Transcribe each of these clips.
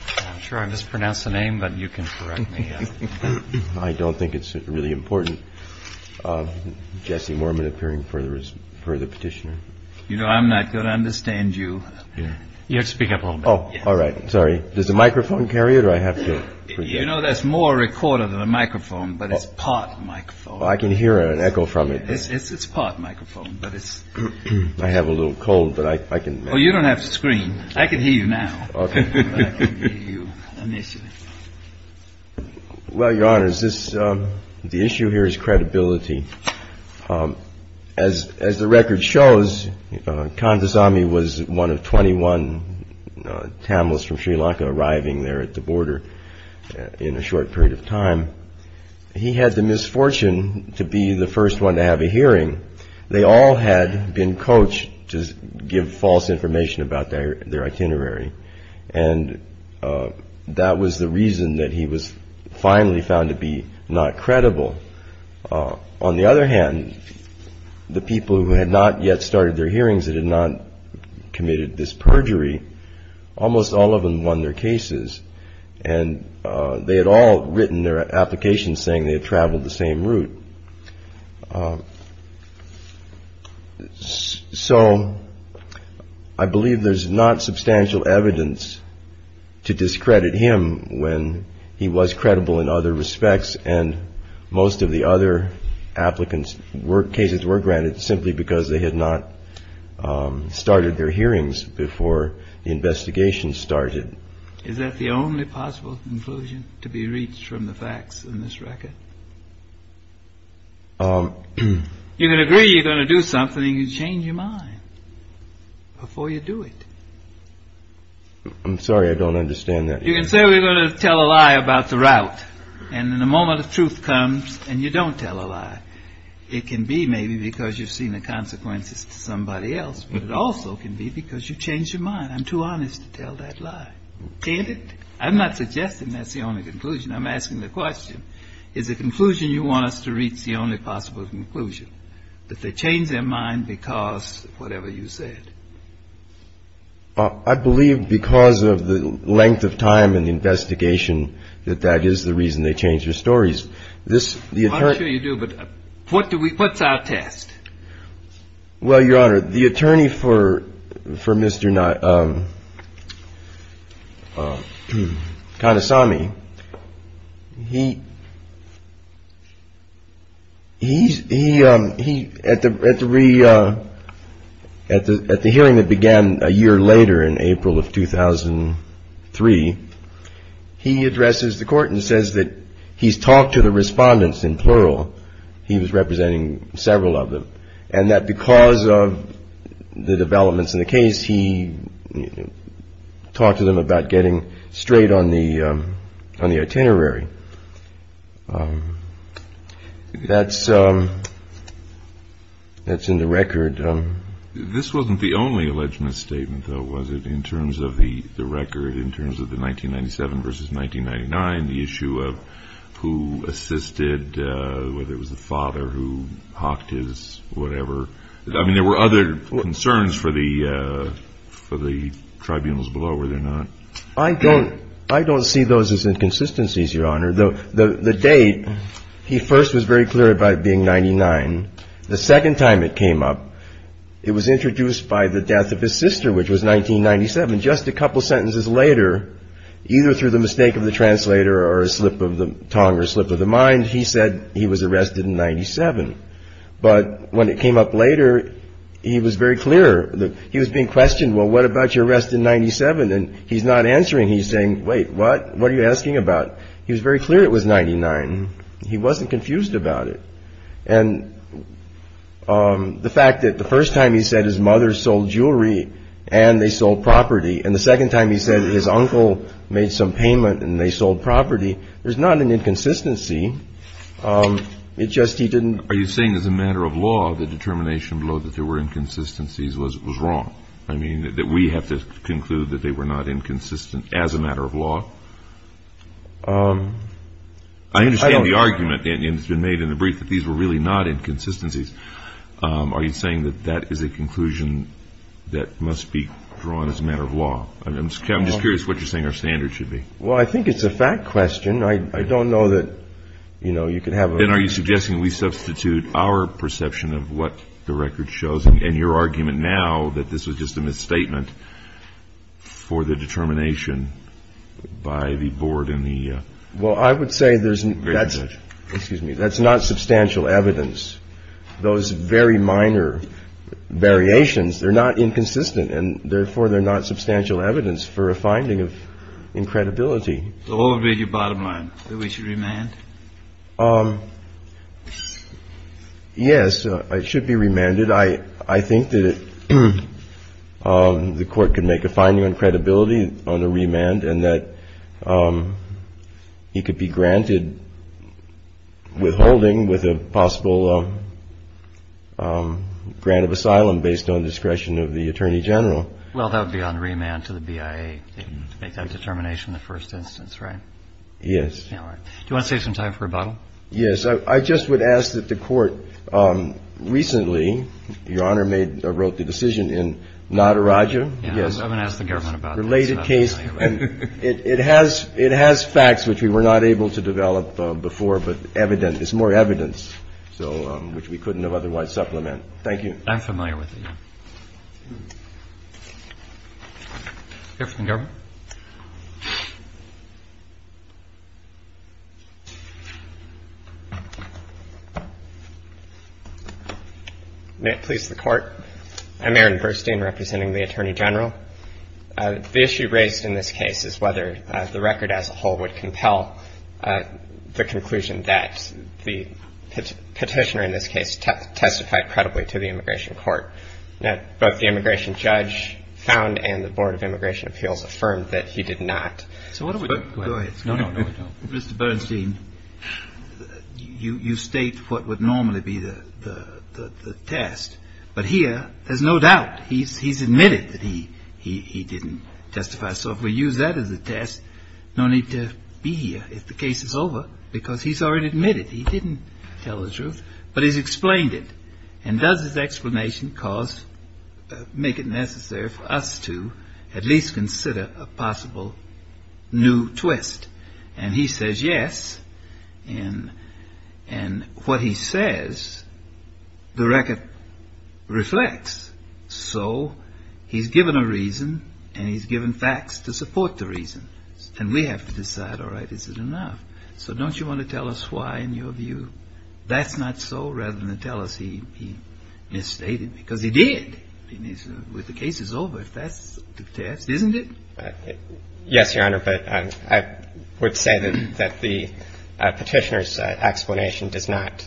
I'm sure I mispronounced the name, but you can correct me. I don't think it's really important. Jesse Mormon appearing for the petitioner. You know, I'm not going to understand you. You speak up. Oh, all right. Sorry. Does the microphone carry it? Or I have to. You know, that's more recorded than a microphone, but it's part microphone. I can hear an echo from it. It's part microphone, but it's. I have a little cold, but I can. Oh, you don't have to scream. I can hear you now. Well, your honor, is this the issue here is credibility. As as the record shows, Kanthasami was one of twenty one Tamils from Sri Lanka arriving there at the border in a short period of time. He had the misfortune to be the first one to have a hearing. They all had been coached to give false information about their itinerary. And that was the reason that he was finally found to be not credible. On the other hand, the people who had not yet started their hearings that had not committed this perjury. Almost all of them won their cases and they had all written their applications saying they had traveled the same route. So I believe there's not substantial evidence to discredit him when he was credible in other respects. And most of the other applicants were cases were granted simply because they had not started their hearings before the investigation started. Is that the only possible conclusion to be reached from the facts in this record? You can agree you're going to do something and change your mind before you do it. I'm sorry, I don't understand that. You can say we're going to tell a lie about the route. And in a moment of truth comes and you don't tell a lie. It can be maybe because you've seen the consequences to somebody else. But it also can be because you change your mind. I'm too honest to tell that lie. Can't it? I'm not suggesting that's the only conclusion I'm asking. The question is the conclusion you want us to reach. The only possible conclusion that they change their mind because whatever you said. I believe because of the length of time and the investigation, that that is the reason they change their stories. This you do. But what do we put our test? Well, Your Honor, the attorney for for Mr. not kind of saw me. He. He's he he at the at the re at the at the hearing that began a year later in April of 2003, he addresses the court and says that he's talked to the respondents in plural. He was representing several of them and that because of the developments in the case, he talked to them about getting straight on the on the itinerary. That's that's in the record. This wasn't the only alleged misstatement, though, was it? In terms of the record, in terms of the 1997 versus 1999, the issue of who assisted, whether it was the father who hawked his whatever. I mean, there were other concerns for the for the tribunals below where they're not. I don't I don't see those as inconsistencies. Your Honor, though, the date he first was very clear about being ninety nine. The second time it came up, it was introduced by the death of his sister, which was 1997. Just a couple of sentences later, either through the mistake of the translator or a slip of the tongue or slip of the mind, he said he was arrested in 97. But when it came up later, he was very clear that he was being questioned. Well, what about your rest in 97? And he's not answering. He's saying, wait, what? What are you asking about? He was very clear. It was ninety nine. He wasn't confused about it. And the fact that the first time he said his mother sold jewelry and they sold property. And the second time he said his uncle made some payment and they sold property. There's not an inconsistency. It just he didn't. Are you saying as a matter of law, the determination below that there were inconsistencies was wrong? I mean, that we have to conclude that they were not inconsistent as a matter of law. I understand the argument that has been made in the brief that these were really not inconsistencies. Are you saying that that is a conclusion that must be drawn as a matter of law? I'm just curious what you're saying our standards should be. Well, I think it's a fact question. I don't know that, you know, you could have. And are you suggesting we substitute our perception of what the record shows and your argument now that this was just a misstatement for the determination? By the board in the. Well, I would say there's. Excuse me. That's not substantial evidence. Those very minor variations, they're not inconsistent. And therefore, they're not substantial evidence for a finding of incredibility. Would be the bottom line that we should remain. Yes, it should be remanded. I think that the court can make a finding on credibility on a remand and that he could be granted withholding with a possible grant of asylum based on discretion of the attorney general. Well, that would be on remand to the BIA. Make that determination the first instance. Right. Yes. Do you want to save some time for a bottle? Yes. I just would ask that the court recently, Your Honor, made or wrote the decision in not a Roger. Yes. I'm going to ask the government about related case. And it has it has facts which we were not able to develop before. But evident is more evidence. So which we couldn't have otherwise supplement. Thank you. I'm familiar with it. If the government. Please, the court. I'm Aaron Burstein representing the attorney general. The issue raised in this case is whether the record as a whole would compel the conclusion that the petitioner in this case testified credibly to the immigration court. That the immigration judge found and the Board of Immigration Appeals affirmed that he did not. So what do we do? Mr. Bernstein, you state what would normally be the test. But here there's no doubt he's he's admitted that he he didn't testify. So if we use that as a test, no need to be here. If the case is over because he's already admitted he didn't tell the truth, but he's explained it. And does this explanation cause make it necessary for us to at least consider a possible new twist? And he says, yes. And and what he says, the record reflects. So he's given a reason and he's given facts to support the reason. And we have to decide, all right, is it enough? So don't you want to tell us why, in your view? That's not so, rather than tell us he he misstated, because he did. With the case is over, that's the test, isn't it? Yes, Your Honor. But I would say that that the petitioner's explanation does not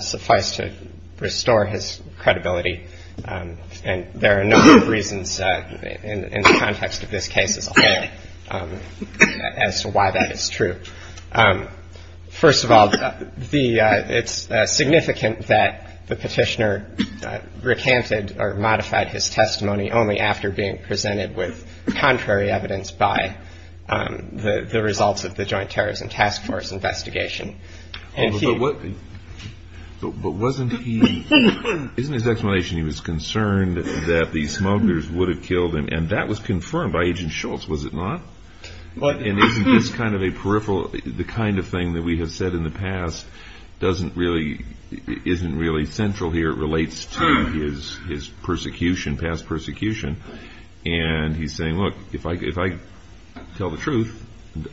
suffice to restore his credibility. And there are a number of reasons in the context of this case as a whole as to why that is true. First of all, the it's significant that the petitioner recanted or modified his testimony only after being presented with contrary evidence by the results of the Joint Terrorism Task Force investigation. And what wasn't he isn't his explanation. He was concerned that the smugglers would have killed him. And that was confirmed by Agent Schultz. And isn't this kind of a peripheral, the kind of thing that we have said in the past, doesn't really isn't really central here. It relates to his his persecution, past persecution. And he's saying, look, if I if I tell the truth,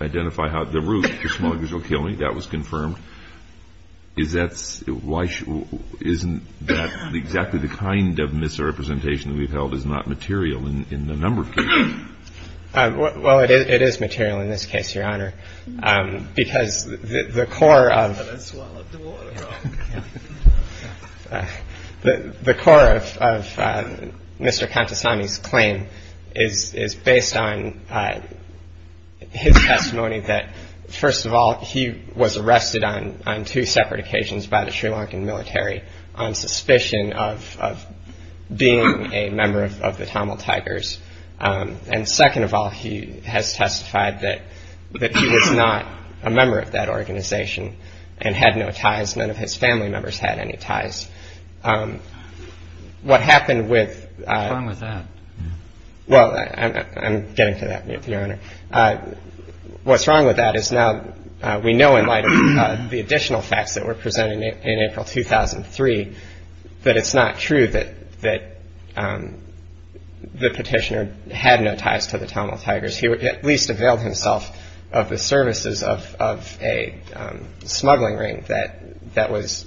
identify the route, the smugglers will kill me. That was confirmed. Is that why isn't that exactly the kind of misrepresentation that we've held is not material in the number of cases? Well, it is material in this case, Your Honor, because the core of the core of Mr. Contessini's claim is based on his testimony that, first of all, he was arrested on two separate occasions by the Sri Lankan military on suspicion of being a member of the Tamil Tigers. And second of all, he has testified that that he was not a member of that organization and had no ties. None of his family members had any ties. What happened with that? Well, I'm getting to that, Your Honor. What's wrong with that is now we know in light of the additional facts that were presented in April 2003, that it's not true that that the petitioner had no ties to the Tamil Tigers. He at least availed himself of the services of a smuggling ring that that was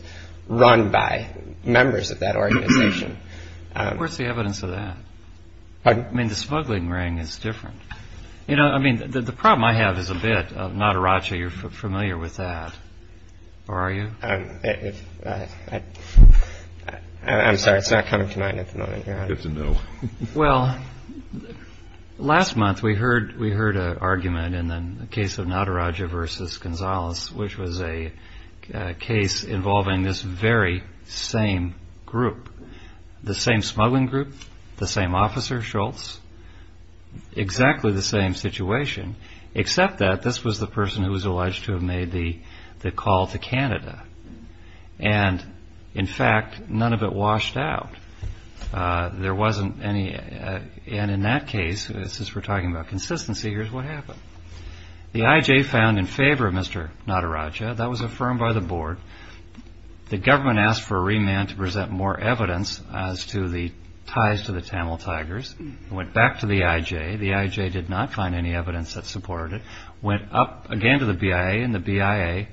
run by members of that organization. Where's the evidence of that? I mean, the smuggling ring is different. You know, I mean, the problem I have is a bit of Nataraja. You're familiar with that, or are you? I'm sorry. It's not coming to mind at the moment. It's a no. Well, last month we heard we heard an argument in the case of Nataraja versus Gonzales, which was a case involving this very same group, the same smuggling group, the same officer, Schultz. Exactly the same situation, except that this was the person who was alleged to have made the call to Canada. And in fact, none of it washed out. There wasn't any. And in that case, since we're talking about consistency, here's what happened. The IJ found in favor of Mr. Nataraja. That was affirmed by the board. The government asked for a remand to present more evidence as to the ties to the Tamil Tigers. Went back to the IJ. The IJ did not find any evidence that supported it. Went up again to the BIA, and the BIA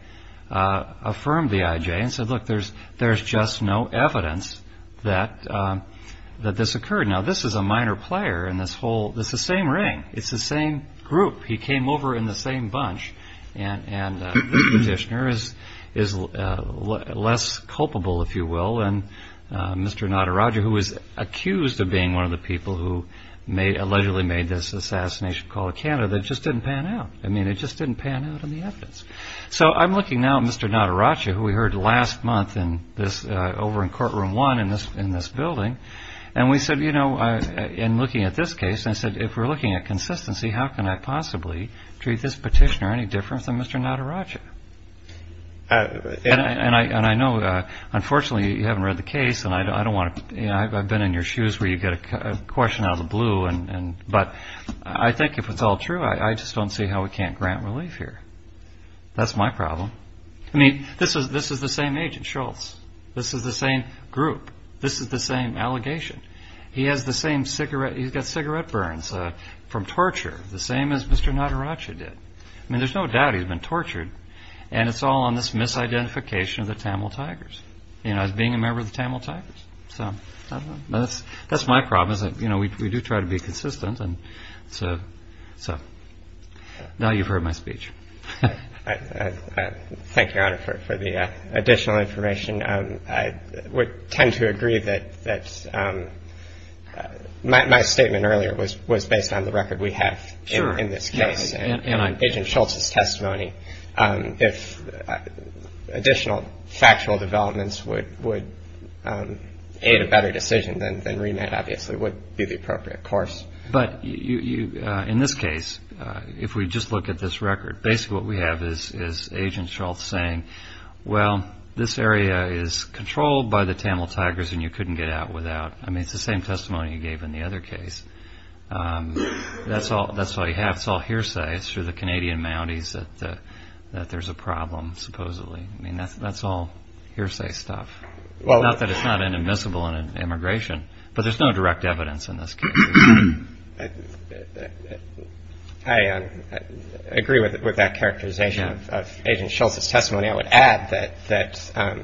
affirmed the IJ and said, look, there's just no evidence that this occurred. Now, this is a minor player in this whole, it's the same ring. It's the same group. He came over in the same bunch. And the petitioner is less culpable, if you will, than Mr. Nataraja, who was accused of being one of the people who allegedly made this assassination call to Canada. It just didn't pan out. I mean, it just didn't pan out on the evidence. So I'm looking now at Mr. Nataraja, who we heard last month over in courtroom one in this building. And we said, you know, in looking at this case, I said, if we're looking at consistency, how can I possibly treat this petitioner any different than Mr. Nataraja? And I know, unfortunately, you haven't read the case, and I don't want to – I've been in your shoes where you get a question out of the blue. But I think if it's all true, I just don't see how we can't grant relief here. That's my problem. I mean, this is the same agent, Shultz. This is the same group. This is the same allegation. He has the same cigarette – he's got cigarette burns from torture, the same as Mr. Nataraja did. I mean, there's no doubt he's been tortured. And it's all on this misidentification of the Tamil Tigers, you know, as being a member of the Tamil Tigers. So I don't know. That's my problem, is that, you know, we do try to be consistent. So now you've heard my speech. Thank you, Your Honor, for the additional information. I would tend to agree that my statement earlier was based on the record we have in this case. And on Agent Shultz's testimony, if additional factual developments would aid a better decision, then remand obviously would be the appropriate course. But in this case, if we just look at this record, basically what we have is Agent Shultz saying, well, this area is controlled by the Tamil Tigers and you couldn't get out without – I mean, it's the same testimony you gave in the other case. That's all you have. It's all hearsay. It's through the Canadian Mounties that there's a problem, supposedly. I mean, that's all hearsay stuff. Not that it's not inadmissible in an immigration, but there's no direct evidence in this case. And I would add that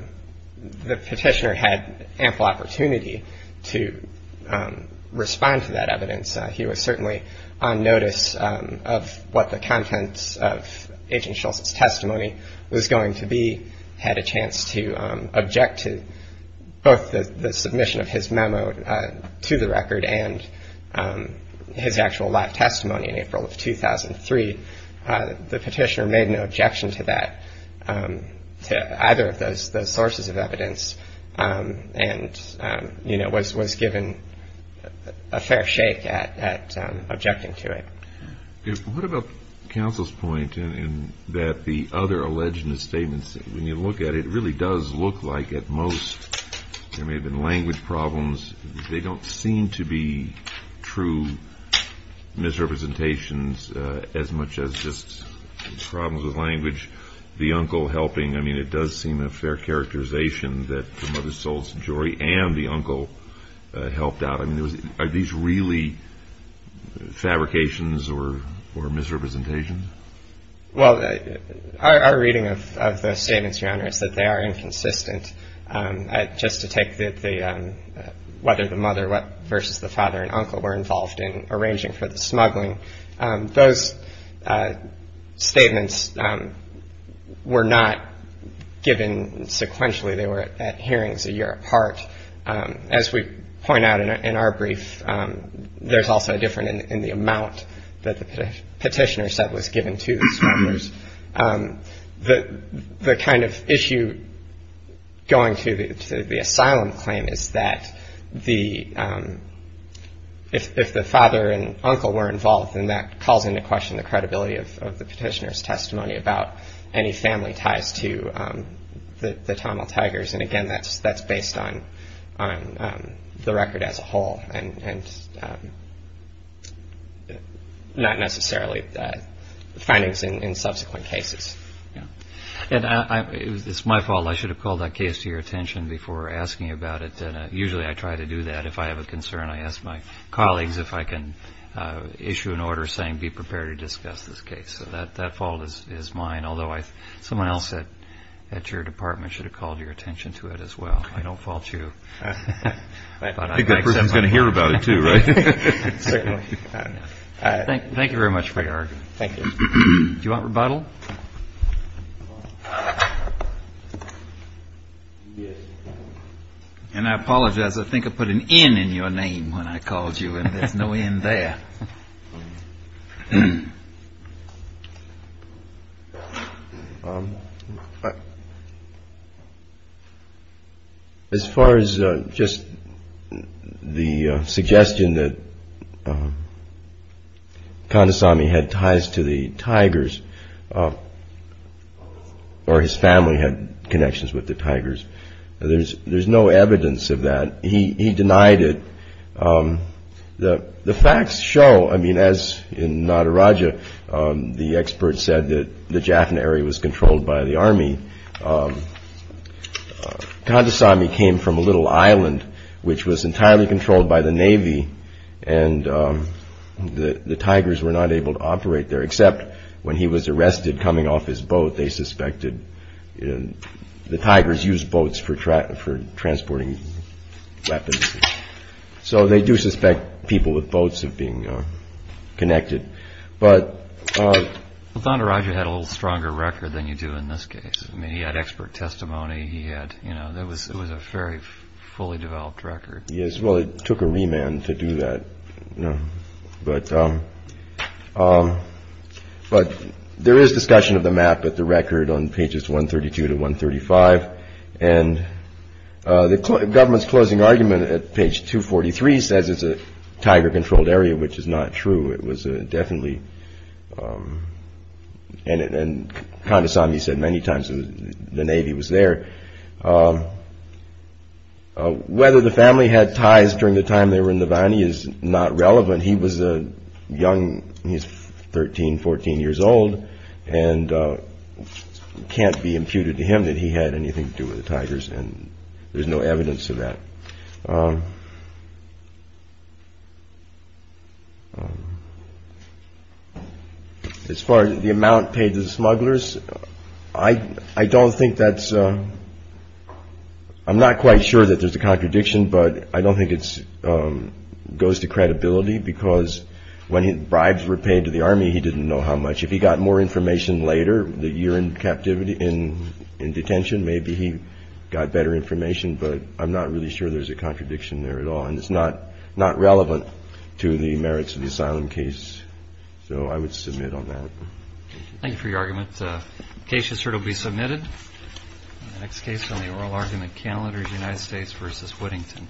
the petitioner had ample opportunity to respond to that evidence. He was certainly on notice of what the contents of Agent Shultz's testimony was going to be, had a chance to object to both the submission of his memo to the record and his actual live testimony in April of 2003. The petitioner made no objection to that, to either of those sources of evidence, and was given a fair shake at objecting to it. What about counsel's point that the other alleged misstatements, when you look at it, it really does look like at most there may have been language problems. They don't seem to be true misrepresentations as much as just problems with language. The uncle helping, I mean, it does seem a fair characterization that the mother sold some jewelry and the uncle helped out. I mean, are these really fabrications or misrepresentations? Well, our reading of those statements, Your Honor, is that they are inconsistent. Just to take the whether the mother versus the father and uncle were involved in arranging for the smuggling, those statements were not given sequentially. They were at hearings a year apart. As we point out in our brief, there's also a difference in the amount that the petitioner said was given to the smugglers. The kind of issue going to the asylum claim is that if the father and uncle were involved, then that calls into question the credibility of the petitioner's testimony about any family ties to the Tamil Tigers. And again, that's based on the record as a whole and not necessarily the findings in subsequent cases. It's my fault. I should have called that case to your attention before asking about it. Usually I try to do that if I have a concern. I ask my colleagues if I can issue an order saying be prepared to discuss this case. So that fault is mine, although someone else at your department should have called your attention to it as well. I don't fault you. I think that person is going to hear about it too, right? Thank you very much for your argument. Thank you. Do you want rebuttal? And I apologize. I think I put an N in your name when I called you and there's no N there. As far as just the suggestion that Kandasamy had ties to the Tigers or his family had connections with the Tigers, there's no evidence of that. He denied it. The facts show, I mean, as in Nataraja, the expert said that the Jaffna area was controlled by the army. Kandasamy came from a little island which was entirely controlled by the Navy and the Tigers were not able to operate there except when he was arrested coming off his boat. They suspected the Tigers used boats for transporting weapons. So they do suspect people with boats of being connected. But Nataraja had a little stronger record than you do in this case. He had expert testimony. It was a very fully developed record. Yes. Well, it took a remand to do that. But there is discussion of the map at the record on pages 132 to 135. And the government's closing argument at page 243 says it's a Tiger-controlled area, which is not true. It was definitely, and Kandasamy said many times the Navy was there. Whether the family had ties during the time they were in the valley is not relevant. He was young. He's 13, 14 years old and can't be imputed to him that he had anything to do with the Tigers. And there's no evidence of that. As far as the amount paid to the smugglers, I don't think that's I'm not quite sure that there's a contradiction, but I don't think it goes to credibility because when bribes were paid to the Army, he didn't know how much. If he got more information later, the year in captivity, in detention, maybe he got better information. But I'm not really sure there's a contradiction there at all. And it's not not relevant to the merits of the asylum case. So I would submit on that. Thank you for your argument. The case is here to be submitted. Next case on the oral argument calendar, United States versus Whittington.